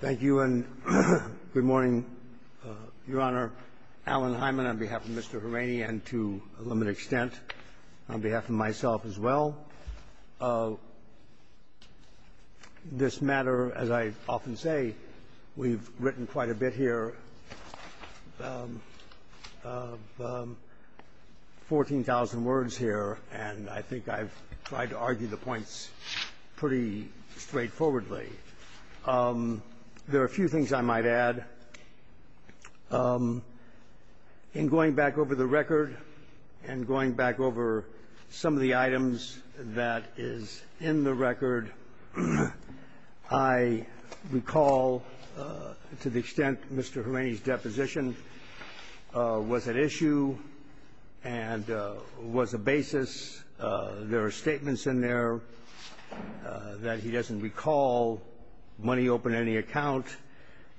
Thank you and good morning, Your Honor. Alan Hyman on behalf of Mr. Horaney and to a limited extent, on behalf of myself as well. This matter, as I often say, we've written quite a bit here, 14,000 words here, and I think I've tried to argue the points pretty straightforwardly. There are a few things I might add. In going back over the record and going back over some of the items that is in the record, I recall to the extent Mr. Horaney's deposition was at issue and was a basis. There are statements in there that he doesn't recall money open to any account.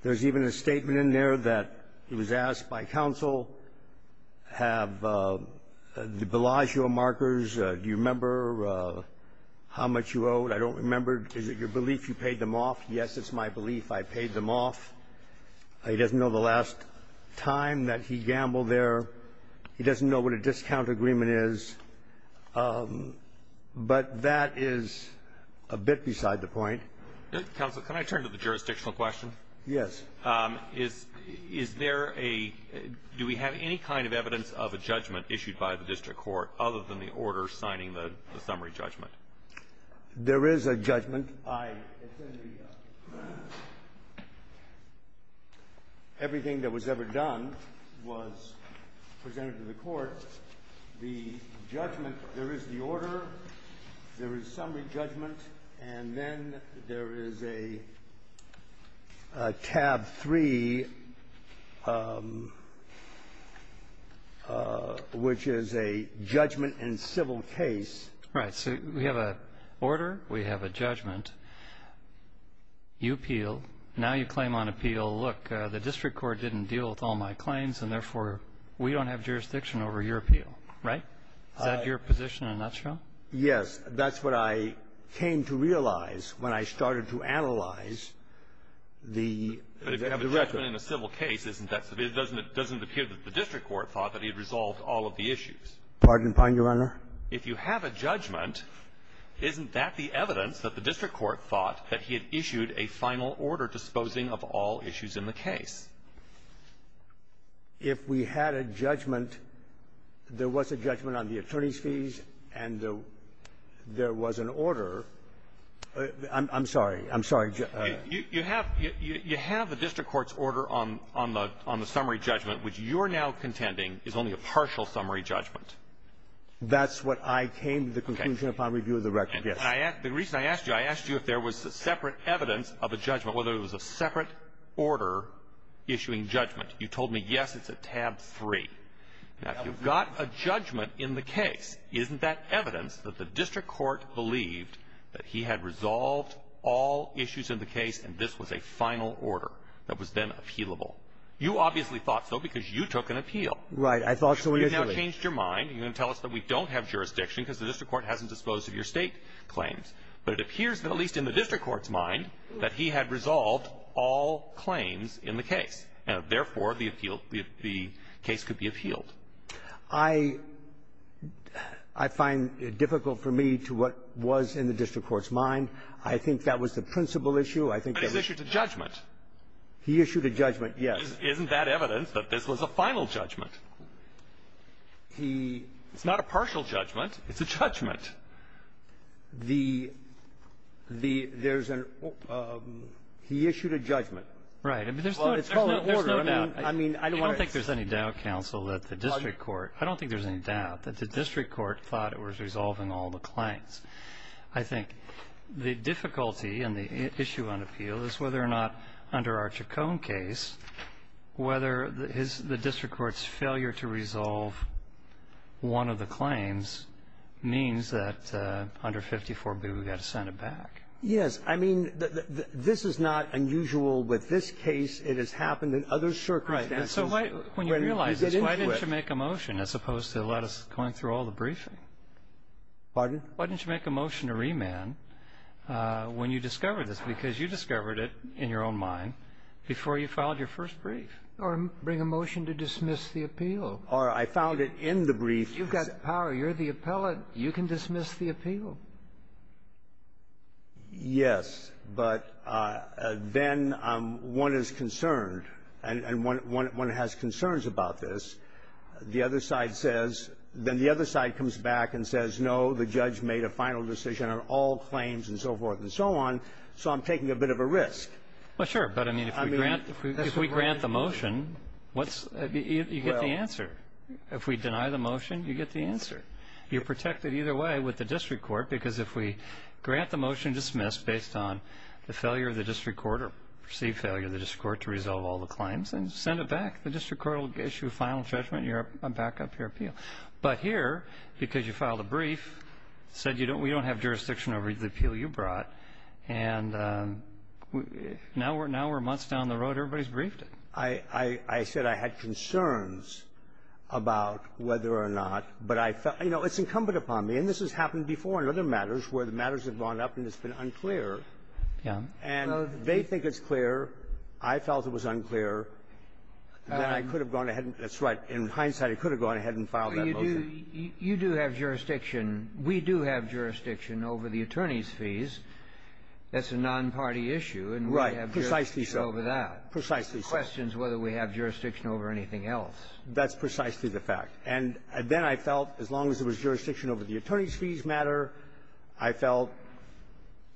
There's even a statement in there that he was asked by counsel, have the Bellagio markers, do you remember how much you owed? I don't remember. Is it your belief you paid them off? Yes, it's my belief I paid them off. He doesn't know the last time that he gambled there. He doesn't know what a discount agreement is. But that is a bit beside the point. Counsel, can I turn to the jurisdictional question? Yes. Is there a do we have any kind of evidence of a judgment issued by the district court other than the order signing the summary judgment? There is a judgment. Everything that was ever done was presented to the court. The judgment, there is the order, there is summary judgment, and then there is a tab 3, which is a judgment in civil case. Right. So we have an order, we have a judgment, you appeal. Now you claim on appeal, look, the district court didn't deal with all my claims and, therefore, we don't have jurisdiction over your appeal. Right? Is that your position in a nutshell? Yes. That's what I came to realize when I started to analyze the record. But if you have a judgment in a civil case, isn't that so? It doesn't appear that the district court thought that he had resolved all of the issues. Pardon? Pardon you, Your Honor? If you have a judgment, isn't that the evidence that the district court thought that he had issued a final order disposing of all issues in the case? If we had a judgment, there was a judgment on the attorney's fees and there was an order. I'm sorry. I'm sorry. You have the district court's order on the summary judgment, which you're now contending is only a partial summary judgment. That's what I came to the conclusion upon review of the record. Yes. And I asked you if there was separate evidence of a judgment, whether it was a separate order issuing judgment. You told me, yes, it's a tab 3. Now, if you've got a judgment in the case, isn't that evidence that the district court believed that he had resolved all issues in the case and this was a final order that was then appealable? You obviously thought so because you took an appeal. Right. I thought so initially. You changed your mind. You're going to tell us that we don't have jurisdiction because the district court hasn't disposed of your State claims. But it appears that, at least in the district court's mind, that he had resolved all claims in the case, and, therefore, the appeal, the case could be appealed. I find it difficult for me to what was in the district court's mind. I think that was the principal issue. I think that was the principle issue. But he issued a judgment. He issued a judgment, yes. Isn't that evidence that this was a final judgment? He ---- It's not a partial judgment. It's a judgment. The ---- there's an ---- he issued a judgment. I mean, there's no ---- Well, it's called an order. I mean, I don't want to ---- I don't think there's any doubt, counsel, that the district court ---- I don't think there's any doubt that the district court thought it was resolving all the claims. I think the difficulty in the issue on appeal is whether or not under our Chacon case, whether his ---- the district court's failure to resolve one of the claims means that under 54B, we've got to send it back. Yes. I mean, this is not unusual with this case. It has happened in other circumstances when we get into it. Right. And so when you realize this, why didn't you make a motion as opposed to let us go through all the briefing? Pardon? Why didn't you make a motion to remand when you discovered this? Because you discovered it in your own mind before you filed your first brief. Or bring a motion to dismiss the appeal. Or I found it in the brief. You've got the power. You're the appellate. You can dismiss the appeal. Yes. But then one is concerned, and one has concerns about this. The other side says ---- then the other side comes back and says, no, the judge made a final decision on all claims and so forth and so on. So I'm taking a bit of a risk. Well, sure. But I mean, if we grant the motion, you get the answer. If we deny the motion, you get the answer. You're protected either way with the district court because if we grant the motion dismissed based on the failure of the district court or perceived failure of the district court to resolve all the claims, then send it back. The district court will issue a final judgment and back up your appeal. But here, because you filed a brief, said we don't have jurisdiction over the appeal you brought, and now we're months down the road, everybody's briefed it. I said I had concerns about whether or not, but I felt ---- you know, it's incumbent upon me. And this has happened before in other matters where the matters have gone up and it's been unclear. Yeah. And they think it's clear. I felt it was unclear. And I could have gone ahead and ---- that's right. In hindsight, I could have gone ahead and filed that motion. You do have jurisdiction. We do have jurisdiction over the attorneys' fees. That's a non-party issue. And we have jurisdiction over that. Precisely so. It questions whether we have jurisdiction over anything else. That's precisely the fact. And then I felt as long as there was jurisdiction over the attorneys' fees matter, I felt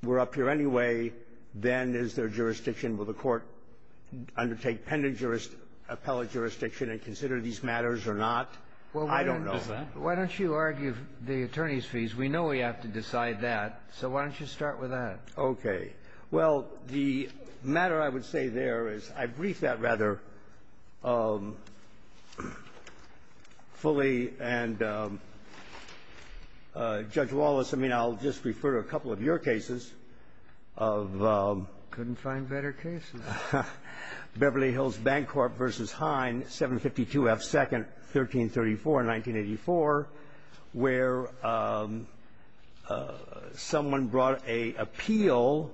we're up here anyway, then is there jurisdiction. Will the Court undertake appellate jurisdiction and consider these matters or not? I don't know. Why don't you argue the attorneys' fees? We know we have to decide that. So why don't you start with that? Okay. Well, the matter I would say there is I briefed that rather fully. And, Judge Wallace, I mean, I'll just refer to a couple of your cases of ---- Couldn't find better cases. Beverly Hills Bank Corp. v. Hine, 752 F. 2nd, 1334, 1984, where someone brought an appeal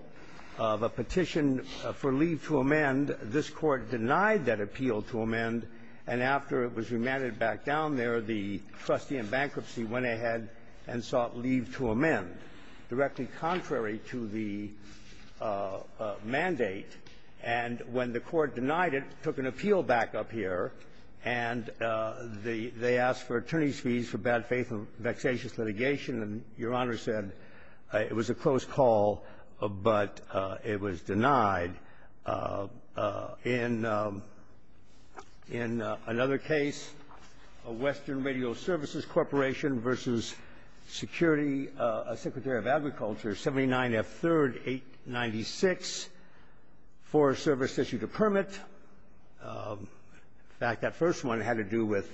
of a petition for leave to amend. This Court denied that appeal to amend. And after it was remanded back down there, the trustee in bankruptcy went ahead and sought leave to amend. Directly contrary to the mandate. And when the Court denied it, took an appeal back up here, and they asked for attorneys' fees for bad faith and vexatious litigation. And Your Honor said it was a close call, but it was denied. In another case, Western Radio Services Corporation v. Security, a Secretary of State Secretary of Agriculture, 79 F. 3rd, 896, Forest Service issued a permit. In fact, that first one had to do with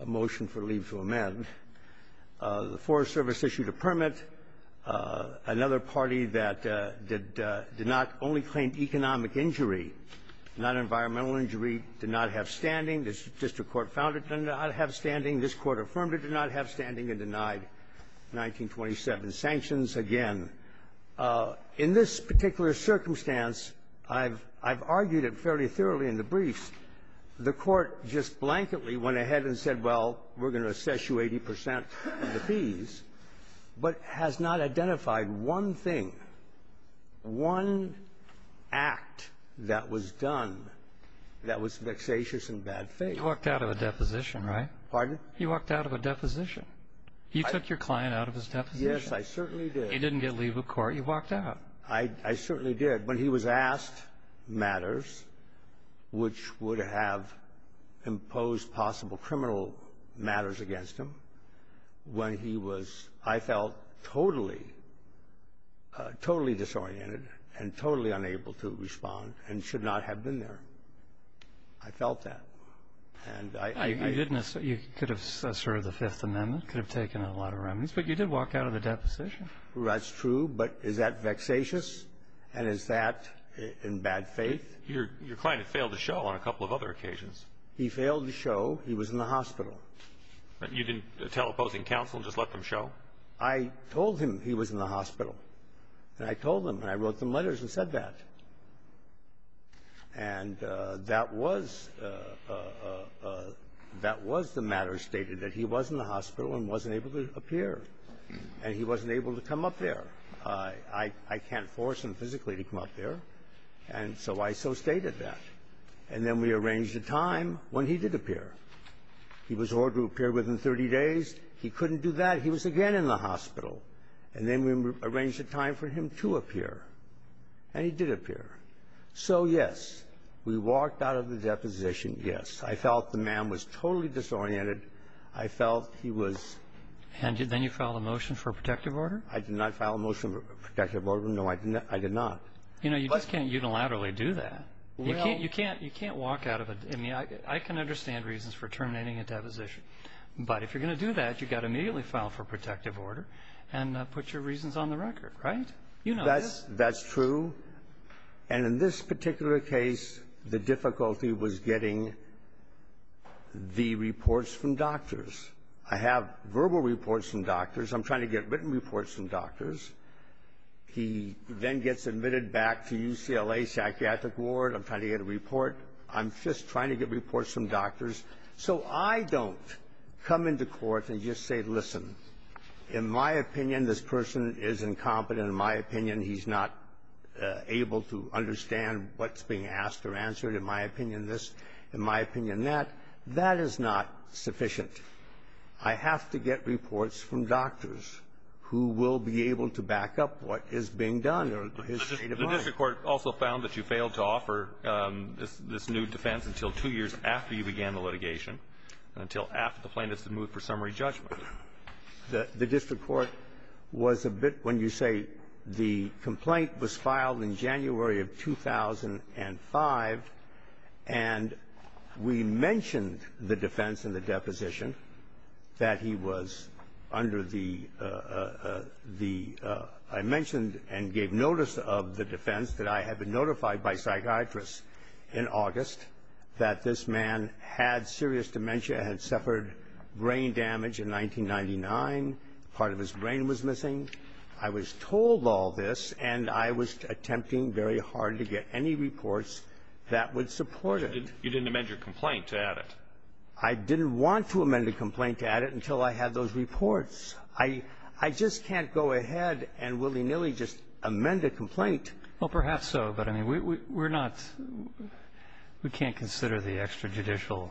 a motion for leave to amend. The Forest Service issued a permit. Another party that did not only claim economic injury, not environmental injury, did not have standing. The district court found it did not have standing. This Court affirmed it did not have standing and denied 1927 sanctions. Again, in this particular circumstance, I've argued it fairly thoroughly in the briefs. The Court just blanketly went ahead and said, well, we're going to assess you 80 percent of the fees, but has not identified one thing, one act that was done that was vexatious and bad faith. You walked out of a deposition, right? Pardon? You walked out of a deposition. You took your client out of his deposition. Yes, I certainly did. You didn't get leave of court. You walked out. I certainly did. When he was asked matters which would have imposed possible criminal matters against him, when he was, I felt, totally disoriented and totally unable to respond and should not have been there. I felt that. And I didn't assess it. You could have asserted the Fifth Amendment, could have taken a lot of remedies, but you did walk out of the deposition. That's true. But is that vexatious? And is that in bad faith? Your client failed to show on a couple of other occasions. He failed to show. He was in the hospital. You didn't tell opposing counsel, just let them show? I told him he was in the hospital. And I told him, and I wrote them letters and said that. And that was the matter stated, that he was in the hospital and wasn't able to appear. And he wasn't able to come up there. I can't force him physically to come up there, and so I so stated that. And then we arranged a time when he did appear. He was ordered to appear within 30 days. He couldn't do that. He was again in the hospital. And then we arranged a time for him to appear. And he did appear. So, yes, we walked out of the deposition, yes. I felt the man was totally disoriented. I felt he was ---- And then you filed a motion for a protective order? I did not file a motion for a protective order. No, I did not. You know, you just can't unilaterally do that. You can't walk out of a ---- I mean, I can understand reasons for terminating a deposition. But if you're going to do that, you've got to immediately file for a protective order and put your reasons on the record, right? You know this. That's true. And in this particular case, the difficulty was getting the reports from doctors. I have verbal reports from doctors. I'm trying to get written reports from doctors. He then gets admitted back to UCLA Psychiatric Ward. I'm trying to get a report. I'm just trying to get reports from doctors. So I don't come into court and just say, listen, in my opinion, this person is incompetent. In my opinion, he's not able to understand what's being asked or answered. In my opinion, this. In my opinion, that. That is not sufficient. I have to get reports from doctors who will be able to back up what is being done or his state of mind. The district court also found that you failed to offer this new defense until two years after you began the litigation, until after the plaintiffs had moved for summary judgment. The district court was a bit, when you say the complaint was filed in January of 2005, and we mentioned the defense in the deposition that he was under the, I mentioned and gave notice of the defense that I had been notified by psychiatrists in August that this man had serious dementia, had suffered brain damage in 1999. Part of his brain was missing. I was told all this, and I was attempting very hard to get any reports that would support it. You didn't amend your complaint to add it. I didn't want to amend a complaint to add it until I had those reports. I just can't go ahead and willy-nilly just amend a complaint. Well, perhaps so, but I mean, we're not, we can't consider the extrajudicial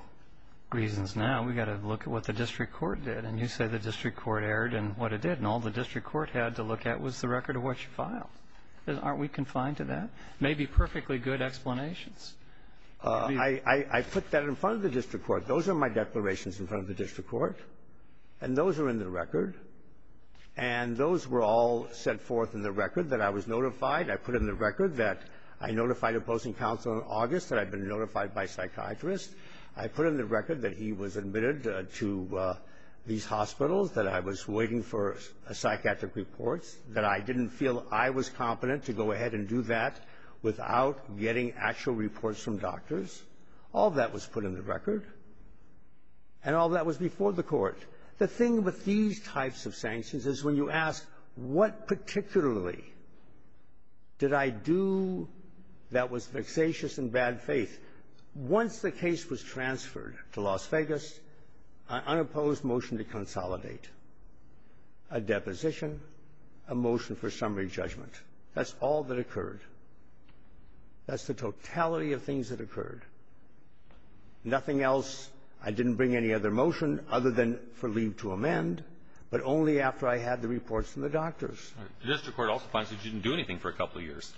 reasons now. We've got to look at what the district court did. And you say the district court erred in what it did. And all the district court had to look at was the record of what you filed. Aren't we confined to that? Maybe perfectly good explanations. I put that in front of the district court. Those are my declarations in front of the district court. And those are in the record. And those were all set forth in the record that I was notified. I put in the record that I notified a posting counselor in August that I had been notified by a psychiatrist. I put in the record that he was admitted to these hospitals, that I was waiting for a psychiatric report, that I didn't feel I was competent to go ahead and do that without getting actual reports from doctors. All that was put in the record, and all that was before the court. The thing with these types of sanctions is when you ask what particularly did I do that was vexatious and bad faith, once the case was transferred to Las Vegas, an unopposed motion to consolidate, a deposition, a motion for summary judgment. That's all that occurred. Nothing else. I didn't bring any other motion other than for leave to amend, but only after I had the reports from the doctors. The district court also finds that you didn't do anything for a couple of years.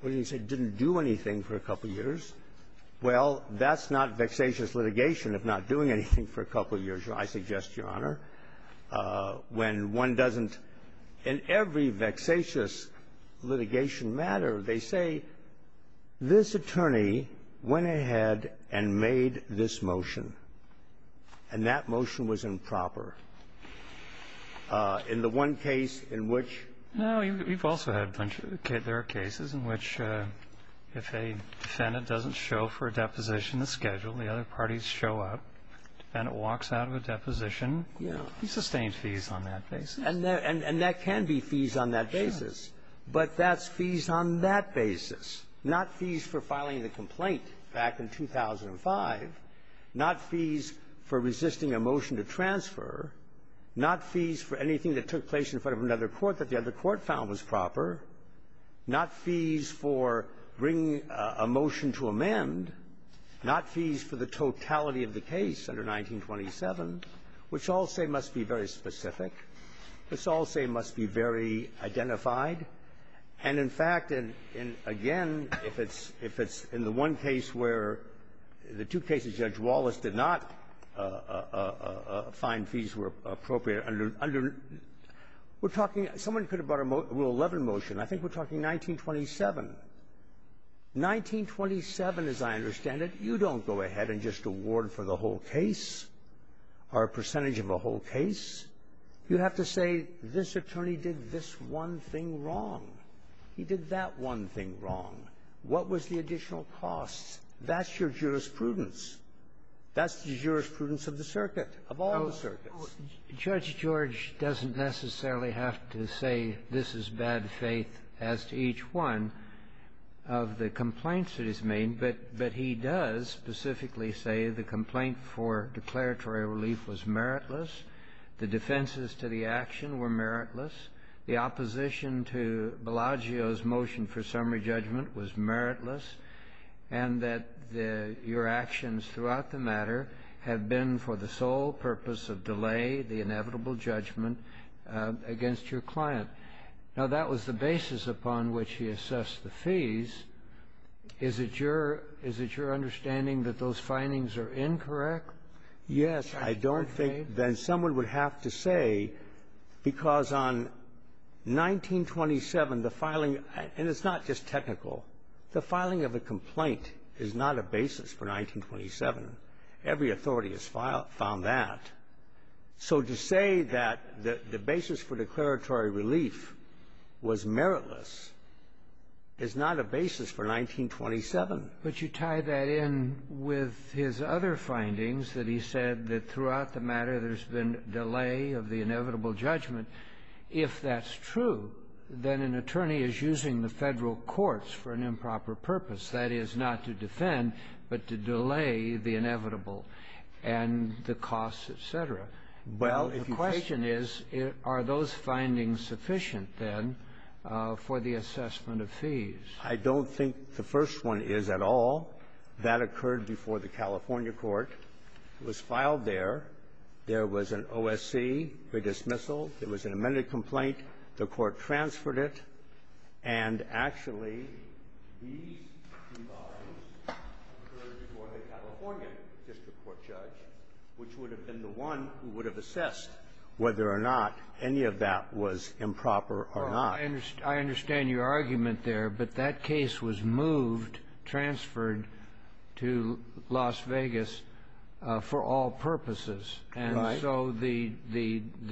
What do you mean, say didn't do anything for a couple of years? Well, that's not vexatious litigation, if not doing anything for a couple of years, Your Honor. I suggest, Your Honor, when one doesn't – in every vexatious litigation matter, they say, this attorney went ahead and made this motion, and that motion was improper. In the one case in which – No. We've also had a bunch of – there are cases in which if a defendant doesn't show for a deposition, the schedule, the other parties show up, the defendant walks out of a deposition, he's sustained fees on that basis. And that can be fees on that basis. Sure. But that's fees on that basis, not fees for filing the complaint back in 2005, not fees for resisting a motion to transfer, not fees for anything that took place in front of another court that the other court found was proper, not fees for bringing a motion to amend, not fees for the totality of the case under 1927, which all say must be very identified. And, in fact, in – again, if it's – if it's in the one case where the two cases Judge Wallace did not find fees were appropriate under – we're talking – someone could have brought a Rule 11 motion. I think we're talking 1927. 1927, as I understand it, you don't go ahead and just award for the whole case or a percentage of a whole case. You have to say this attorney did this one thing wrong. He did that one thing wrong. What was the additional cost? That's your jurisprudence. That's the jurisprudence of the circuit, of all the circuits. Judge George doesn't necessarily have to say this is bad faith as to each one of the complaints that he's made, but he does specifically say the complaint for declaratory relief was meritless, the defenses to the action were meritless, the opposition to Bellagio's motion for summary judgment was meritless, and that your actions throughout the matter have been for the sole purpose of delay the inevitable judgment against your client. Now, that was the basis upon which he assessed the fees. Is it your – is it your understanding that those findings are incorrect? Yes. I don't think that someone would have to say, because on 1927, the filing – and it's not just technical. The filing of a complaint is not a basis for 1927. Every authority has filed – found that. So to say that the basis for declaratory relief was meritless is not a basis for 1927. But you tie that in with his other findings, that he said that throughout the matter there's been delay of the inevitable judgment. If that's true, then an attorney is using the Federal courts for an improper purpose, that is, not to defend, but to delay the inevitable and the costs, et cetera. Well, if you question me – The question is, are those findings sufficient, then, for the assessment of fees? I don't think the first one is at all. That occurred before the California court. It was filed there. There was an OSC for dismissal. There was an amended complaint. The court transferred it. And actually, these two volumes occurred before the California district court judge, which would have been the one who would have assessed whether or not any of that was improper or not. Well, I understand your argument there, but that case was moved, transferred to Las Vegas for all purposes. Right. And so the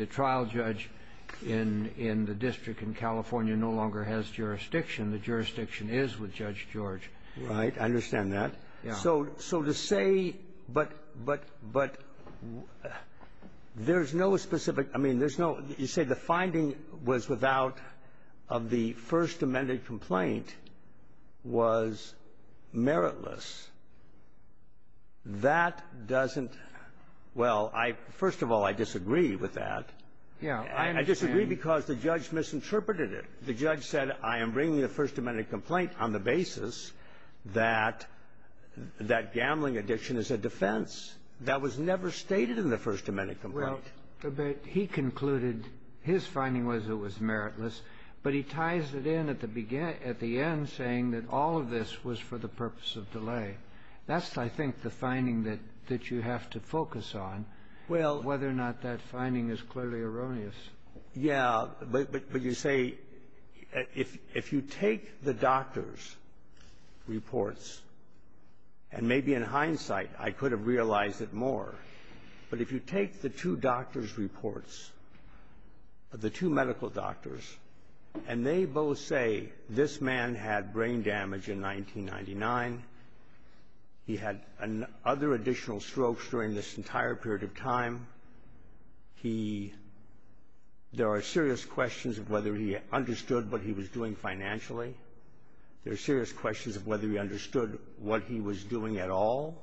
trial judge in the district in California no longer has jurisdiction. The jurisdiction is with Judge George. Right. I understand that. Yeah. So to say, but there's no specific – I mean, there's no – you say the finding was without – of the first amended complaint was meritless. That doesn't – well, I – first of all, I disagree with that. Yeah. I understand. I disagree because the judge misinterpreted it. The judge said, I am bringing the first amended complaint on the basis that that gambling addiction is a defense. That was never stated in the first amended complaint. Well, but he concluded his finding was it was meritless, but he ties it in at the end, saying that all of this was for the purpose of delay. That's, I think, the finding that you have to focus on, whether or not that finding is clearly erroneous. Yeah. But you say if you take the doctor's reports, and maybe in hindsight I could have realized it more, but if you take the two doctor's reports, the two medical doctors, and they both say this man had brain damage in 1999, he had other additional strokes during this entire period of time, he – there are serious questions of whether he understood what he was doing financially. There are serious questions of whether he understood what he was doing at all.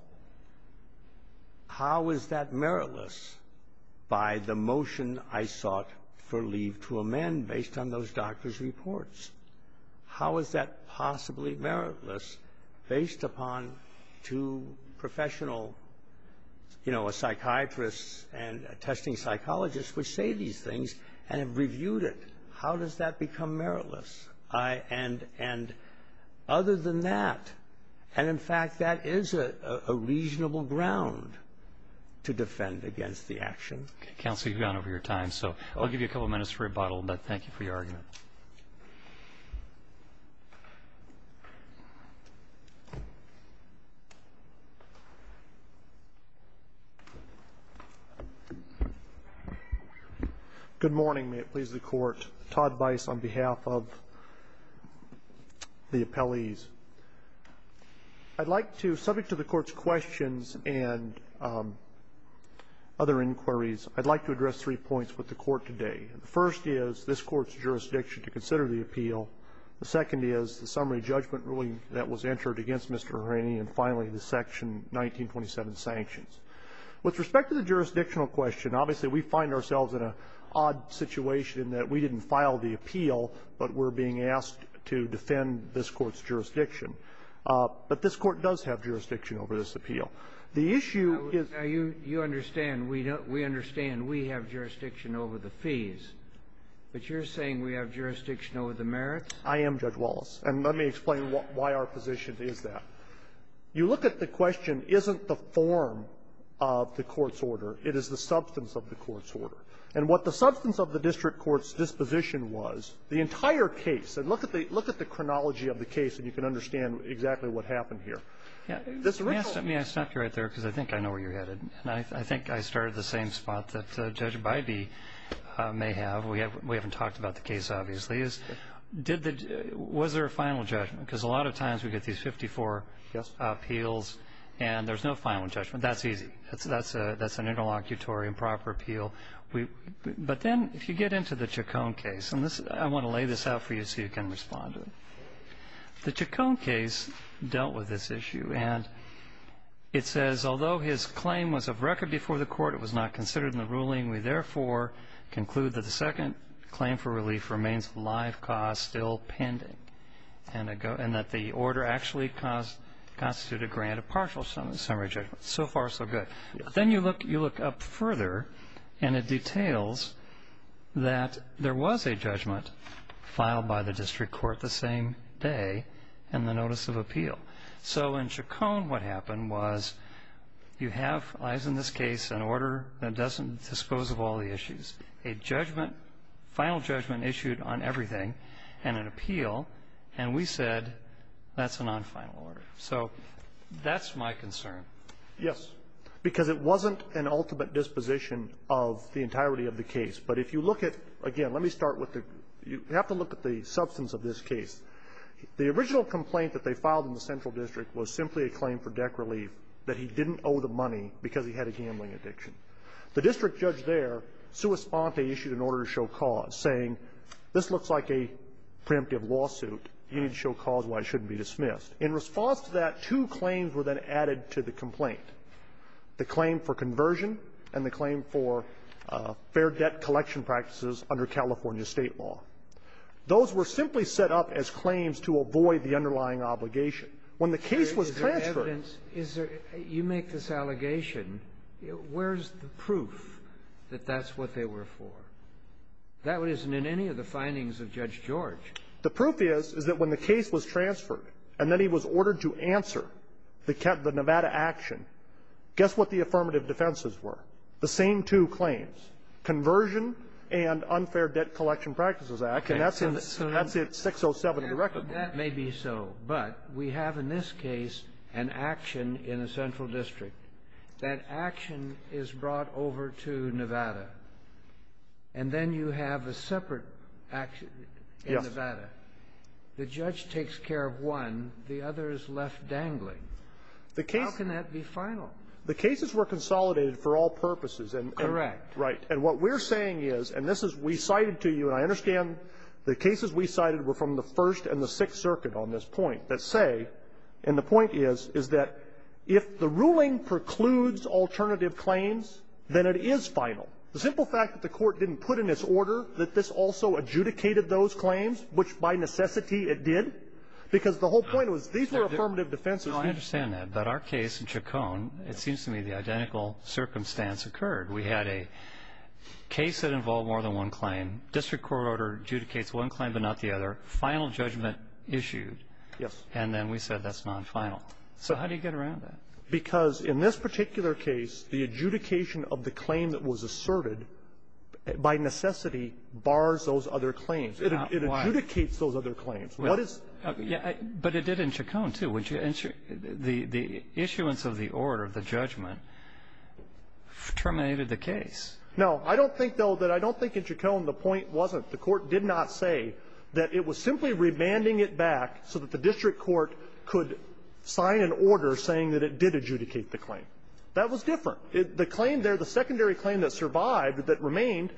How is that meritless by the motion I sought for leave to amend based on those doctor's reports? How is that possibly meritless based upon two professional, you know, psychiatrists and testing psychologists which say these things and have reviewed it? How does that become meritless? And other than that, and in fact that is a reasonable ground to defend against the action. Counsel, you've gone over your time, so I'll give you a couple of minutes for rebuttal, but thank you for your argument. Good morning. May it please the Court. Todd Bice on behalf of the appellees. I'd like to, subject to the Court's questions and other inquiries, I'd like to address three points with the Court today. The first is this Court's jurisdiction to consider the appeal. The second is the summary judgment ruling that was entered against Mr. Harani, and finally the Section 1927 sanctions. With respect to the jurisdictional question, obviously we find ourselves in an odd situation in that we didn't file the appeal, but we're being asked to defend this Court's jurisdiction. But this Court does have jurisdiction over this appeal. The issue is — Now, you understand, we understand we have jurisdiction over the fees. But you're saying we have jurisdiction over the merits? I am, Judge Wallace. And let me explain why our position is that. You look at the question, isn't the form of the Court's order, it is the substance of the Court's order. And what the substance of the district court's disposition was, the entire case — and look at the chronology of the case, and you can understand exactly what happened here. May I stop you right there, because I think I know where you're headed. And I think I started at the same spot that Judge Bybee may have. We haven't talked about the case, obviously. Was there a final judgment? Because a lot of times we get these 54 appeals, and there's no final judgment. That's easy. That's an interlocutory improper appeal. But then if you get into the Chacon case — and I want to lay this out for you so you can respond to it. The Chacon case dealt with this issue. And it says, although his claim was of record before the Court, it was not considered in the ruling. We therefore conclude that the second claim for relief remains a live cause still pending and that the order actually constituted a granted partial summary judgment. So far, so good. Then you look up further, and it details that there was a judgment filed by the district So in Chacon, what happened was you have, as in this case, an order that doesn't dispose of all the issues. A judgment, final judgment issued on everything, and an appeal, and we said that's a non-final order. So that's my concern. Yes. Because it wasn't an ultimate disposition of the entirety of the case. But if you look at — again, let me start with the — you have to look at the substance of this case. The original complaint that they filed in the Central District was simply a claim for debt relief that he didn't owe the money because he had a gambling addiction. The district judge there, sui sponte, issued an order to show cause, saying, this looks like a preemptive lawsuit. You need to show cause why it shouldn't be dismissed. In response to that, two claims were then added to the complaint, the claim for conversion and the claim for fair debt collection practices under California State law. Those were simply set up as claims to avoid the underlying obligation. When the case was transferred — Is there evidence? Is there — you make this allegation. Where's the proof that that's what they were for? That isn't in any of the findings of Judge George. The proof is, is that when the case was transferred, and then he was ordered to answer the Nevada action, guess what the affirmative defenses were? The same two That's in 607 directly. That may be so, but we have in this case an action in the Central District. That action is brought over to Nevada, and then you have a separate action in Nevada. Yes. The judge takes care of one. The other is left dangling. The case — How can that be final? The cases were consolidated for all purposes. Correct. And what we're saying is, and this is — we cited to you, and I understand the cases we cited were from the First and the Sixth Circuit on this point, that say — and the point is, is that if the ruling precludes alternative claims, then it is final. The simple fact that the Court didn't put in its order that this also adjudicated those claims, which, by necessity, it did, because the whole point was these were affirmative defenses. No, I understand that. But our case in Chaconne, it seems to me the identical circumstance occurred. We had a case that involved more than one claim. District court order adjudicates one claim but not the other. Final judgment issued. Yes. And then we said that's nonfinal. So how do you get around that? Because in this particular case, the adjudication of the claim that was asserted by necessity bars those other claims. It adjudicates those other claims. What is — But it did in Chaconne, too. The issuance of the order, the judgment, terminated the case. No. I don't think, though, that I don't think in Chaconne the point wasn't the Court did not say that it was simply remanding it back so that the district court could sign an order saying that it did adjudicate the claim. That was different. The claim there, the secondary claim that survived, that remained,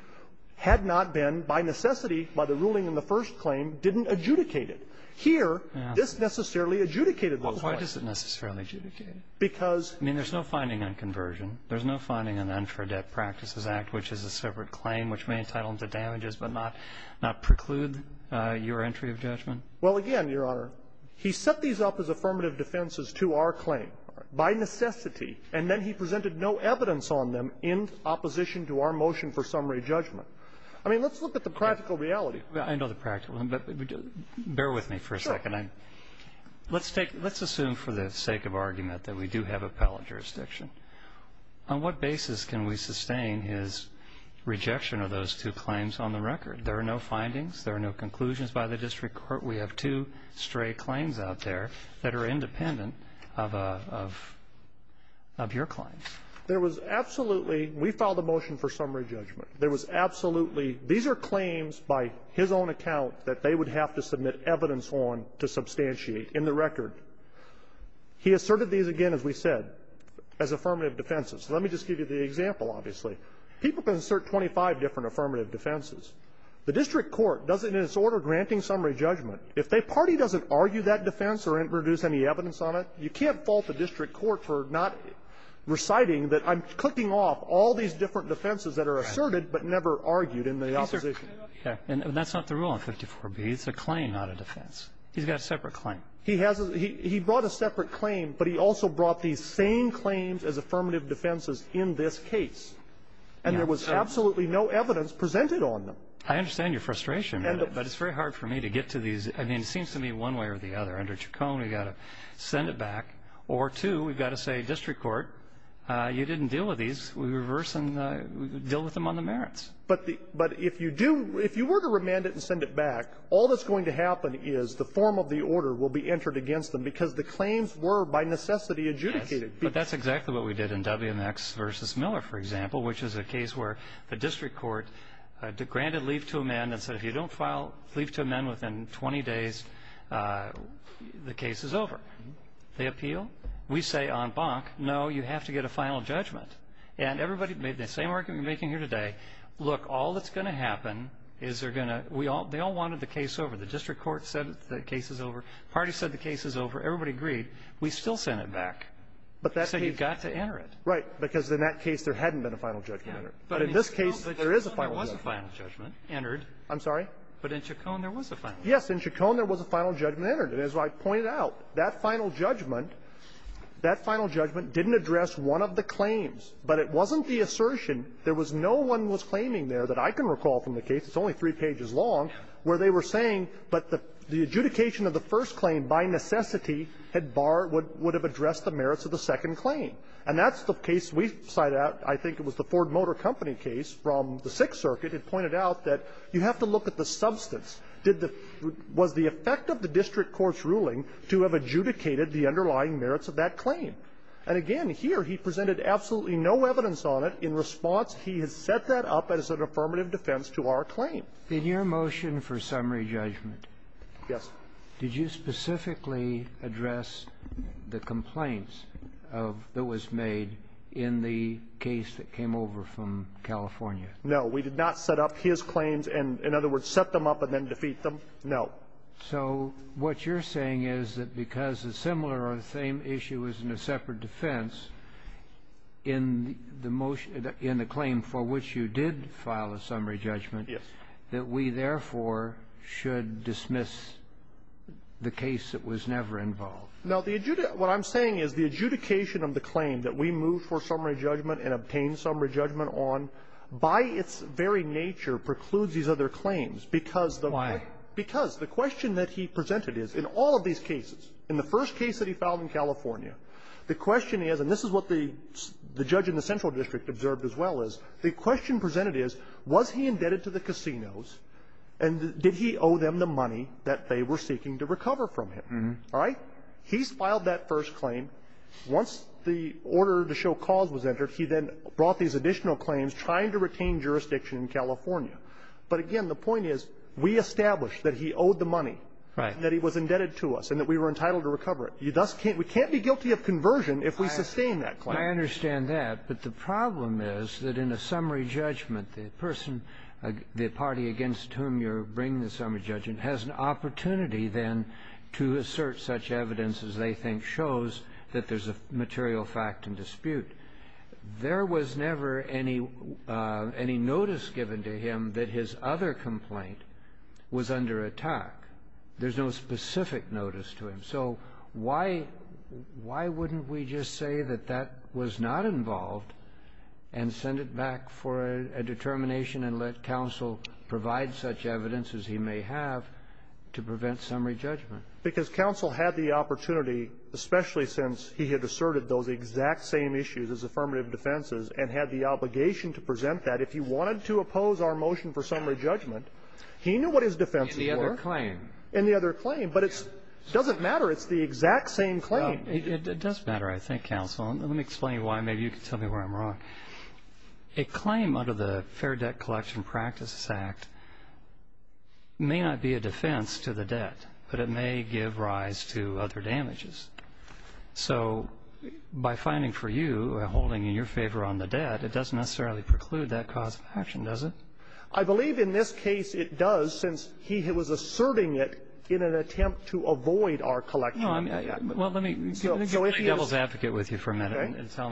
had not been, by necessity, by the ruling in the first claim, didn't adjudicate it. Here, this necessarily adjudicated it. Well, why does it necessarily adjudicate it? Because — I mean, there's no finding on conversion. There's no finding on the Unfor Debt Practices Act, which is a separate claim which may entitle them to damages but not preclude your entry of judgment. Well, again, Your Honor, he set these up as affirmative defenses to our claim by necessity, and then he presented no evidence on them in opposition to our motion for summary judgment. I mean, let's look at the practical reality. I know the practical. But bear with me for a second. Sure. Let's take — let's assume for the sake of argument that we do have appellate jurisdiction. On what basis can we sustain his rejection of those two claims on the record? There are no findings. There are no conclusions by the district court. We have two stray claims out there that are independent of your claims. There was absolutely — we filed a motion for summary judgment. There was absolutely — these are claims by his own account that they would have to submit evidence on to substantiate in the record. He asserted these again, as we said, as affirmative defenses. Let me just give you the example, obviously. People can assert 25 different affirmative defenses. The district court doesn't, in its order, granting summary judgment. If the party doesn't argue that defense or introduce any evidence on it, you can't fault the district court for not reciting that I'm clicking off all these different affirmative defenses that are asserted but never argued in the opposition. And that's not the rule on 54B. It's a claim, not a defense. He's got a separate claim. He brought a separate claim, but he also brought these same claims as affirmative defenses in this case. And there was absolutely no evidence presented on them. I understand your frustration, but it's very hard for me to get to these. I mean, it seems to me one way or the other. Under Chacon, we've got to send it back. Or, two, we've got to say, district court, you didn't deal with these. We reverse and deal with them on the merits. But the – but if you do – if you were to remand it and send it back, all that's going to happen is the form of the order will be entered against them because the claims were, by necessity, adjudicated. Yes. But that's exactly what we did in WMX v. Miller, for example, which is a case where the district court granted leave to amend and said if you don't file leave to amend within 20 days, the case is over. They appeal. We say en banc, no, you have to get a final judgment. And everybody made the same argument we're making here today. Look, all that's going to happen is they're going to – they all wanted the case over. The district court said the case is over. The party said the case is over. Everybody agreed. We still send it back. So you've got to enter it. Right. Because in that case, there hadn't been a final judgment entered. But in this case, there is a final judgment. But in Chacon, there was a final judgment entered. I'm sorry? But in Chacon, there was a final judgment. Yes. In Chacon, there was a final judgment entered. And as I pointed out, that final judgment – that final judgment didn't address one of the claims, but it wasn't the assertion. There was no one was claiming there that I can recall from the case. It's only three pages long, where they were saying, but the adjudication of the first claim, by necessity, had barred – would have addressed the merits of the second claim. And that's the case we cite out. I think it was the Ford Motor Company case from the Sixth Circuit. It pointed out that you have to look at the substance. Did the – was the effect of the district court's ruling to have adjudicated the underlying merits of that claim? And again, here, he presented absolutely no evidence on it. In response, he has set that up as an affirmative defense to our claim. In your motion for summary judgment – Yes. Did you specifically address the complaints of – that was made in the case that came over from California? No. We did not set up his claims and, in other words, set them up and then defeat No. So what you're saying is that because a similar or the same issue is in a separate defense in the motion – in the claim for which you did file a summary judgment, that we, therefore, should dismiss the case that was never involved. Now, the – what I'm saying is the adjudication of the claim that we moved for summary judgment and obtained summary judgment on, by its very nature, precludes these other claims because the – Why? Because the question that he presented is, in all of these cases, in the first case that he filed in California, the question is – and this is what the judge in the Central District observed as well is – the question presented is, was he indebted to the casinos, and did he owe them the money that they were seeking to recover from him? All right? He's filed that first claim. Once the order to show cause was entered, he then brought these additional claims, trying to retain jurisdiction in California. But again, the point is, we established that he owed the money, that he was indebted to us, and that we were entitled to recover it. You thus can't – we can't be guilty of conversion if we sustain that claim. I understand that. But the problem is that in a summary judgment, the person – the party against whom you're bringing the summary judgment has an opportunity then to assert such evidence as they think shows that there's a material fact in dispute. There was never any – any notice given to him that his other complaint was under attack. There's no specific notice to him. So why – why wouldn't we just say that that was not involved and send it back for a determination and let counsel provide such evidence as he may have to prevent summary judgment? Because counsel had the opportunity, especially since he had asserted those exact same issues as affirmative defenses and had the obligation to present that, if he wanted to oppose our motion for summary judgment, he knew what his defenses were. In the other claim. In the other claim. But it doesn't matter. It's the exact same claim. It does matter, I think, counsel. And let me explain why. Maybe you can tell me where I'm wrong. A claim under the Fair Debt Collection Practices Act may not be a defense to the debt, but it may give rise to other damages. So by finding for you a holding in your favor on the debt, it doesn't necessarily preclude that cause of action, does it? I believe in this case it does, since he was asserting it in an attempt to avoid our collection. Well, let me get my devil's advocate with you for a minute and tell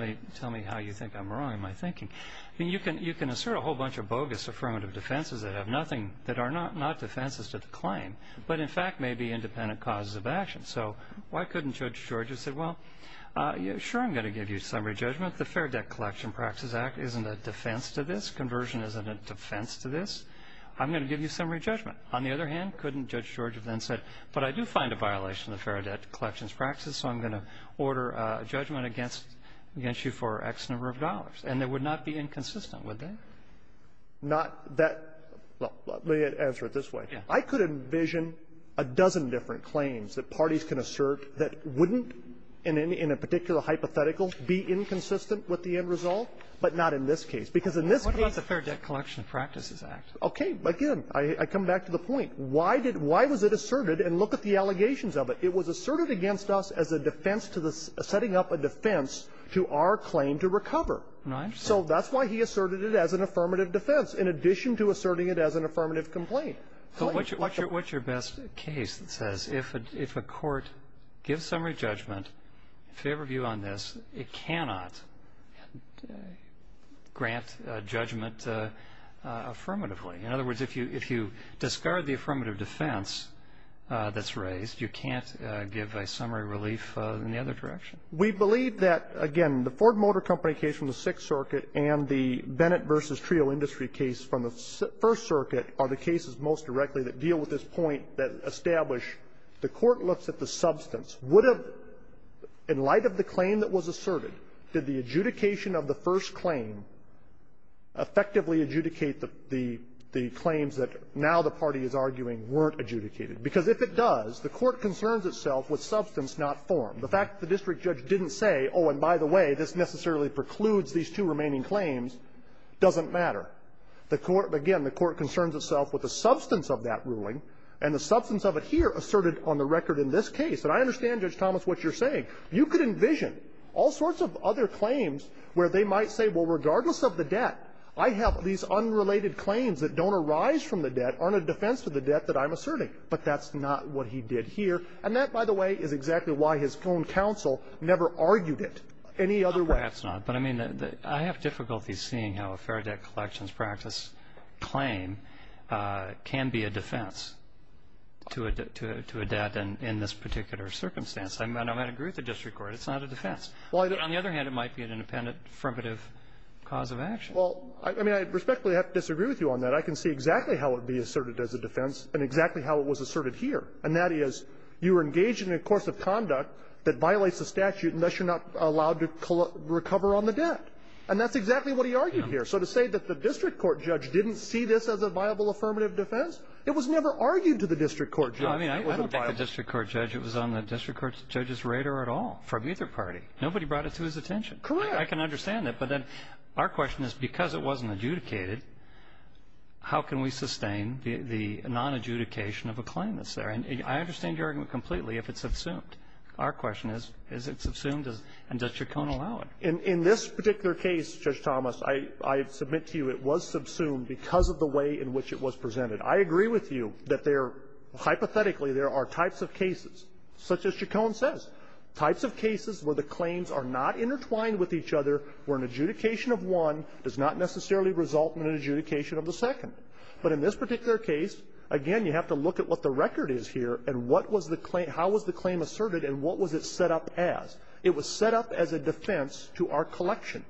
me how you think I'm wrong in my thinking. I mean, you can assert a whole bunch of bogus affirmative defenses that have nothing, that are not defenses to the claim, but in fact may be independent causes of action. So why couldn't Judge George have said, well, sure, I'm going to give you summary judgment. The Fair Debt Collection Practices Act isn't a defense to this. Conversion isn't a defense to this. I'm going to give you summary judgment. On the other hand, couldn't Judge George have then said, but I do find a violation of the Fair Debt Collections Practices, so I'm going to order a judgment against you for X number of dollars. And that would not be inconsistent, would that? Not that. Well, let me answer it this way. I could envision a dozen different claims that parties can assert that wouldn't in a particular hypothetical be inconsistent with the end result, but not in this case. Because in this case the Fair Debt Collection Practices Act. Okay. Again, I come back to the point. Why did why was it asserted? And look at the allegations of it. It was asserted against us as a defense to the setting up a defense to our claim to recover. Right. So that's why he asserted it as an affirmative defense, in addition to asserting it as an affirmative complaint. But what's your best case that says if a court gives summary judgment in favor of you on this, it cannot grant judgment affirmatively? In other words, if you discard the affirmative defense that's raised, you can't give a summary relief in the other direction. We believe that, again, the Ford Motor Company case from the Sixth Circuit and the Bennett v. Trio Industry case from the First Circuit are the cases most directly that deal with this point that establish the Court looks at the substance. Would it, in light of the claim that was asserted, did the adjudication of the first claim effectively adjudicate the claims that now the party is arguing weren't adjudicated? Because if it does, the Court concerns itself with substance not formed. The fact that the district judge didn't say, oh, and by the way, this necessarily precludes these two remaining claims, doesn't matter. The Court, again, the Court concerns itself with the substance of that ruling and the substance of it here asserted on the record in this case. And I understand, Judge Thomas, what you're saying. You could envision all sorts of other claims where they might say, well, regardless of the debt, I have these unrelated claims that don't arise from the debt, aren't a defense to the debt that I'm asserting. But that's not what he did here. And that, by the way, is exactly why his own counsel never argued it any other way. Well, that's not. But I mean, I have difficulty seeing how a fair debt collections practice claim can be a defense to a debt in this particular circumstance. I mean, I might agree with the district court. It's not a defense. On the other hand, it might be an independent, affirmative cause of action. Well, I mean, I respectfully disagree with you on that. I can see exactly how it would be asserted as a defense and exactly how it was asserted here. And that is, you were engaged in a course of conduct that violates the statute, and thus you're not allowed to recover on the debt. And that's exactly what he argued here. So to say that the district court judge didn't see this as a viable, affirmative defense, it was never argued to the district court judge. No, I mean, I don't think the district court judge. It was on the district court judge's radar at all from either party. Nobody brought it to his attention. Correct. I can understand that. But then our question is, because it wasn't adjudicated, how can we sustain the nonadjudication of a claim that's there? And I understand your argument completely if it's subsumed. Our question is, is it subsumed, and does Chacon allow it? In this particular case, Judge Thomas, I submit to you it was subsumed because of the way in which it was presented. I agree with you that there, hypothetically, there are types of cases, such as Chacon says, types of cases where the claims are not intertwined with each other, where an adjudication of one does not necessarily result in an adjudication of the second. But in this particular case, again, you have to look at what the record is here and how was the claim asserted and what was it set up as. It was set up as a defense to our collection,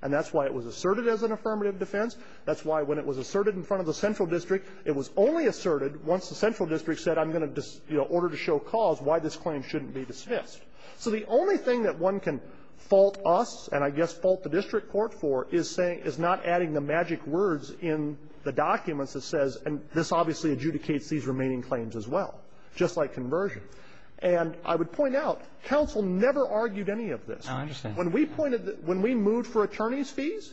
and that's why it was asserted as an affirmative defense. That's why when it was asserted in front of the central district, it was only asserted once the central district said, I'm going to order to show cause why this claim shouldn't be dismissed. So the only thing that one can fault us and, I guess, fault the district court for is saying, is not adding the magic words in the documents that says, and this obviously adjudicates these remaining claims as well, just like conversion. And I would point out, counsel never argued any of this. Robertson. When we pointed, when we moved for attorneys' fees,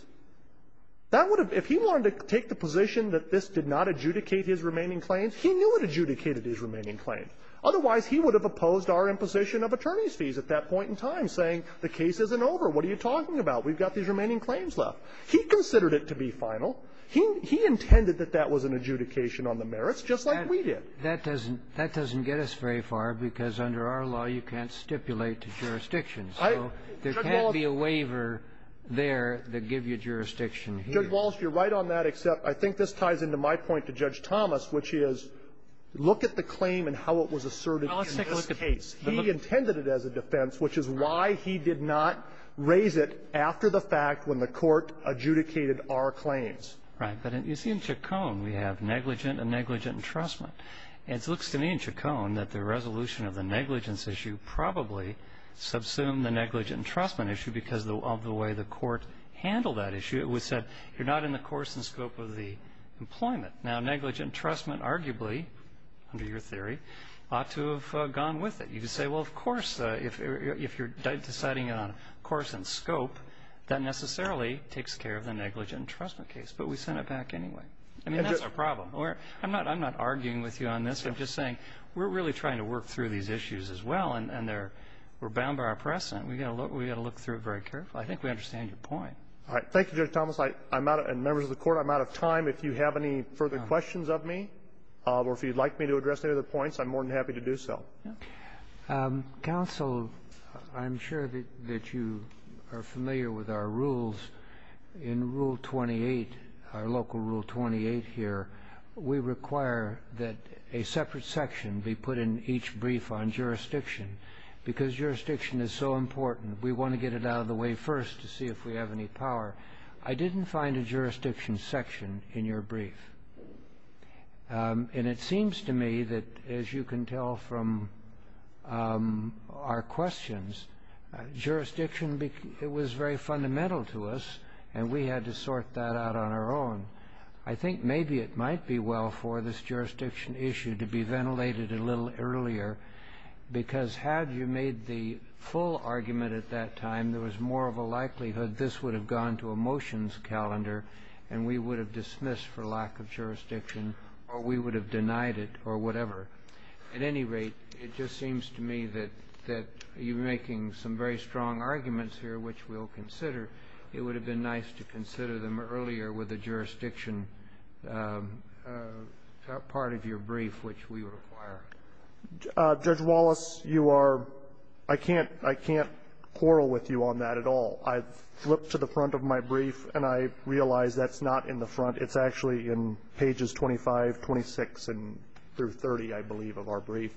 that would have, if he wanted to take the position that this did not adjudicate his remaining claims, he knew it adjudicated his remaining claim. Otherwise, he would have opposed our imposition of attorneys' fees at that point in time, saying the case isn't over, what are you talking about, we've got these remaining claims left. He considered it to be final. He intended that that was an adjudication on the merits, just like we did. That doesn't get us very far, because under our law, you can't stipulate jurisdictions. So there can't be a waiver there that gives you jurisdiction here. Judge Walsh, you're right on that, except I think this ties into my point to Judge Thomas, which is, look at the claim and how it was asserted in this case. Well, let's take a look at the case. He intended it as a defense, which is why he did not raise it after the fact when the Court adjudicated our claims. Right. But you see in Chacon, we have negligent and negligent entrustment. It looks to me in Chacon that the resolution of the negligence issue probably subsumed the negligent entrustment issue because of the way the Court handled that issue. It said you're not in the course and scope of the employment. Now, negligent entrustment arguably, under your theory, ought to have gone with it. You could say, well, of course, if you're deciding on course and scope, that necessarily takes care of the negligent entrustment case. But we sent it back anyway. I mean, that's our problem. I'm not arguing with you on this. I'm just saying we're really trying to work through these issues as well, and we're bound by our precedent. We've got to look through it very carefully. I think we understand your point. All right. Thank you, Judge Thomas. I'm out of — and members of the Court, I'm out of time. If you have any further questions of me, or if you'd like me to address any of the points, I'm more than happy to do so. Counsel, I'm sure that you are familiar with our rules. In Rule 28, our local Rule 28 here, we require that a separate section be put in each brief on jurisdiction because jurisdiction is so important. We want to get it out of the way first to see if we have any power. I didn't find a jurisdiction section in your brief, and it seems to me that, as you can tell from our questions, jurisdiction was very fundamental to us, and we had to sort that out on our own. I think maybe it might be well for this jurisdiction issue to be ventilated a little earlier because had you made the full argument at that time, there was more of a motions calendar, and we would have dismissed for lack of jurisdiction, or we would have denied it or whatever. At any rate, it just seems to me that you're making some very strong arguments here, which we'll consider. It would have been nice to consider them earlier with the jurisdiction part of your brief, which we require. Judge Wallace, you are — I can't — I can't quarrel with you on that at all. I flipped to the front of my brief, and I realize that's not in the front. It's actually in pages 25, 26, and — through 30, I believe, of our brief,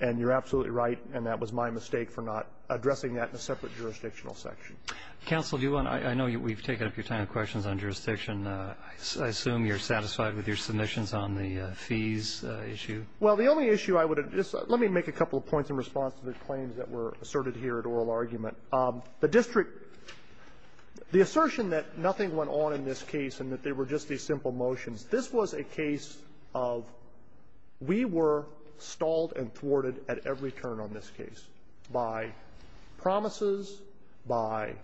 and you're absolutely right, and that was my mistake for not addressing that in a separate jurisdictional section. Counsel, do you want to — I know we've taken up your time and questions on jurisdiction. I assume you're satisfied with your submissions on the fees issue. Well, the only issue I would — just let me make a couple of points in response to the claims that were asserted here at oral argument. The district — the assertion that nothing went on in this case and that they were just these simple motions, this was a case of we were stalled and thwarted at every turn on this case by promises, by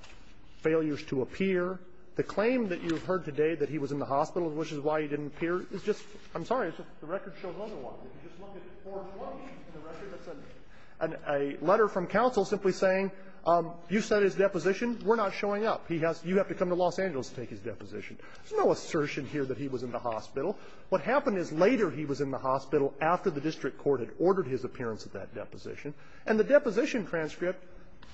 failures to appear. The claim that you've heard today that he was in the hospital, which is why he didn't appear, is just — I'm sorry. It's just the record shows another one. If you just look at 420 in the record, it's a letter from counsel simply saying, you said his deposition. We're not showing up. He has — you have to come to Los Angeles to take his deposition. There's no assertion here that he was in the hospital. What happened is later he was in the hospital after the district court had ordered his appearance at that deposition. And the deposition transcript,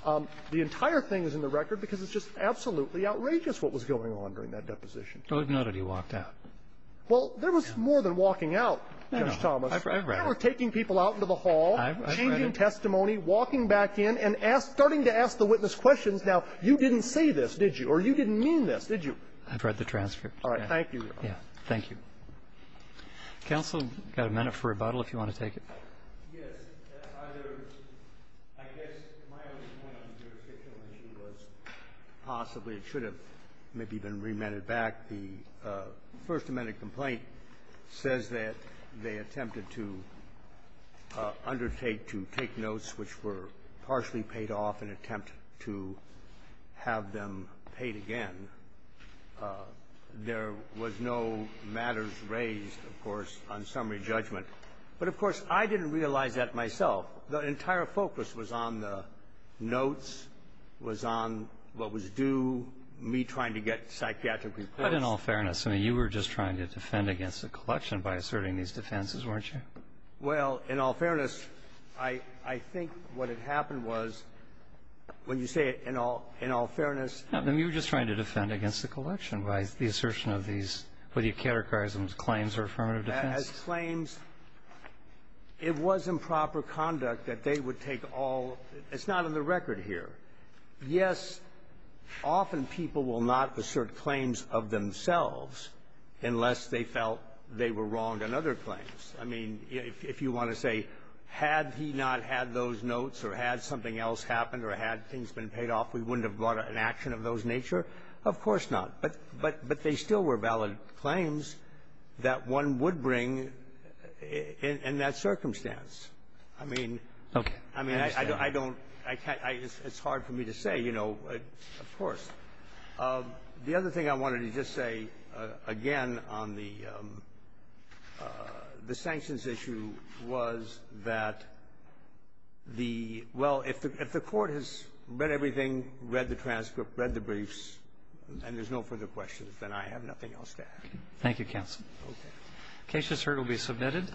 the entire thing is in the record because it's just absolutely outrageous what was going on during that deposition. But we've noted he walked out. Well, there was more than walking out, Judge Thomas. We were taking people out into the hall, changing testimony, walking back in, and asking — starting to ask the witness questions. Now, you didn't say this, did you? Or you didn't mean this, did you? I've read the transcript. All right. Thank you. Yeah. Thank you. Counsel, you've got a minute for rebuttal if you want to take it. Yes. Either — I guess my only point on the jurisdictional issue was possibly it should have maybe been remanded back. The First Amendment complaint says that they attempted to undertake to take notes which were partially paid off in an attempt to have them paid again. There was no matters raised, of course, on summary judgment. But, of course, I didn't realize that myself. The entire focus was on the notes, was on what was due, me trying to get psychiatric But in all fairness, I mean, you were just trying to defend against the collection by asserting these defenses, weren't you? Well, in all fairness, I think what had happened was, when you say in all fairness You were just trying to defend against the collection by the assertion of these, whether you categorize them as claims or affirmative defense. As claims, it was improper conduct that they would take all — it's not on the record here. Yes, often people will not assert claims of themselves unless they felt they were wronged on other claims. I mean, if you want to say, had he not had those notes or had something else happened or had things been paid off, we wouldn't have brought an action of those nature, of course not. But they still were valid claims that one would bring in that circumstance. I mean — Okay. I mean, I don't — it's hard for me to say, you know, of course. The other thing I wanted to just say, again, on the sanctions issue was that the — well, if the Court has read everything, read the transcript, read the briefs, and there's no further questions, then I have nothing else to add. Thank you, counsel. Okay. The case just heard will be submitted.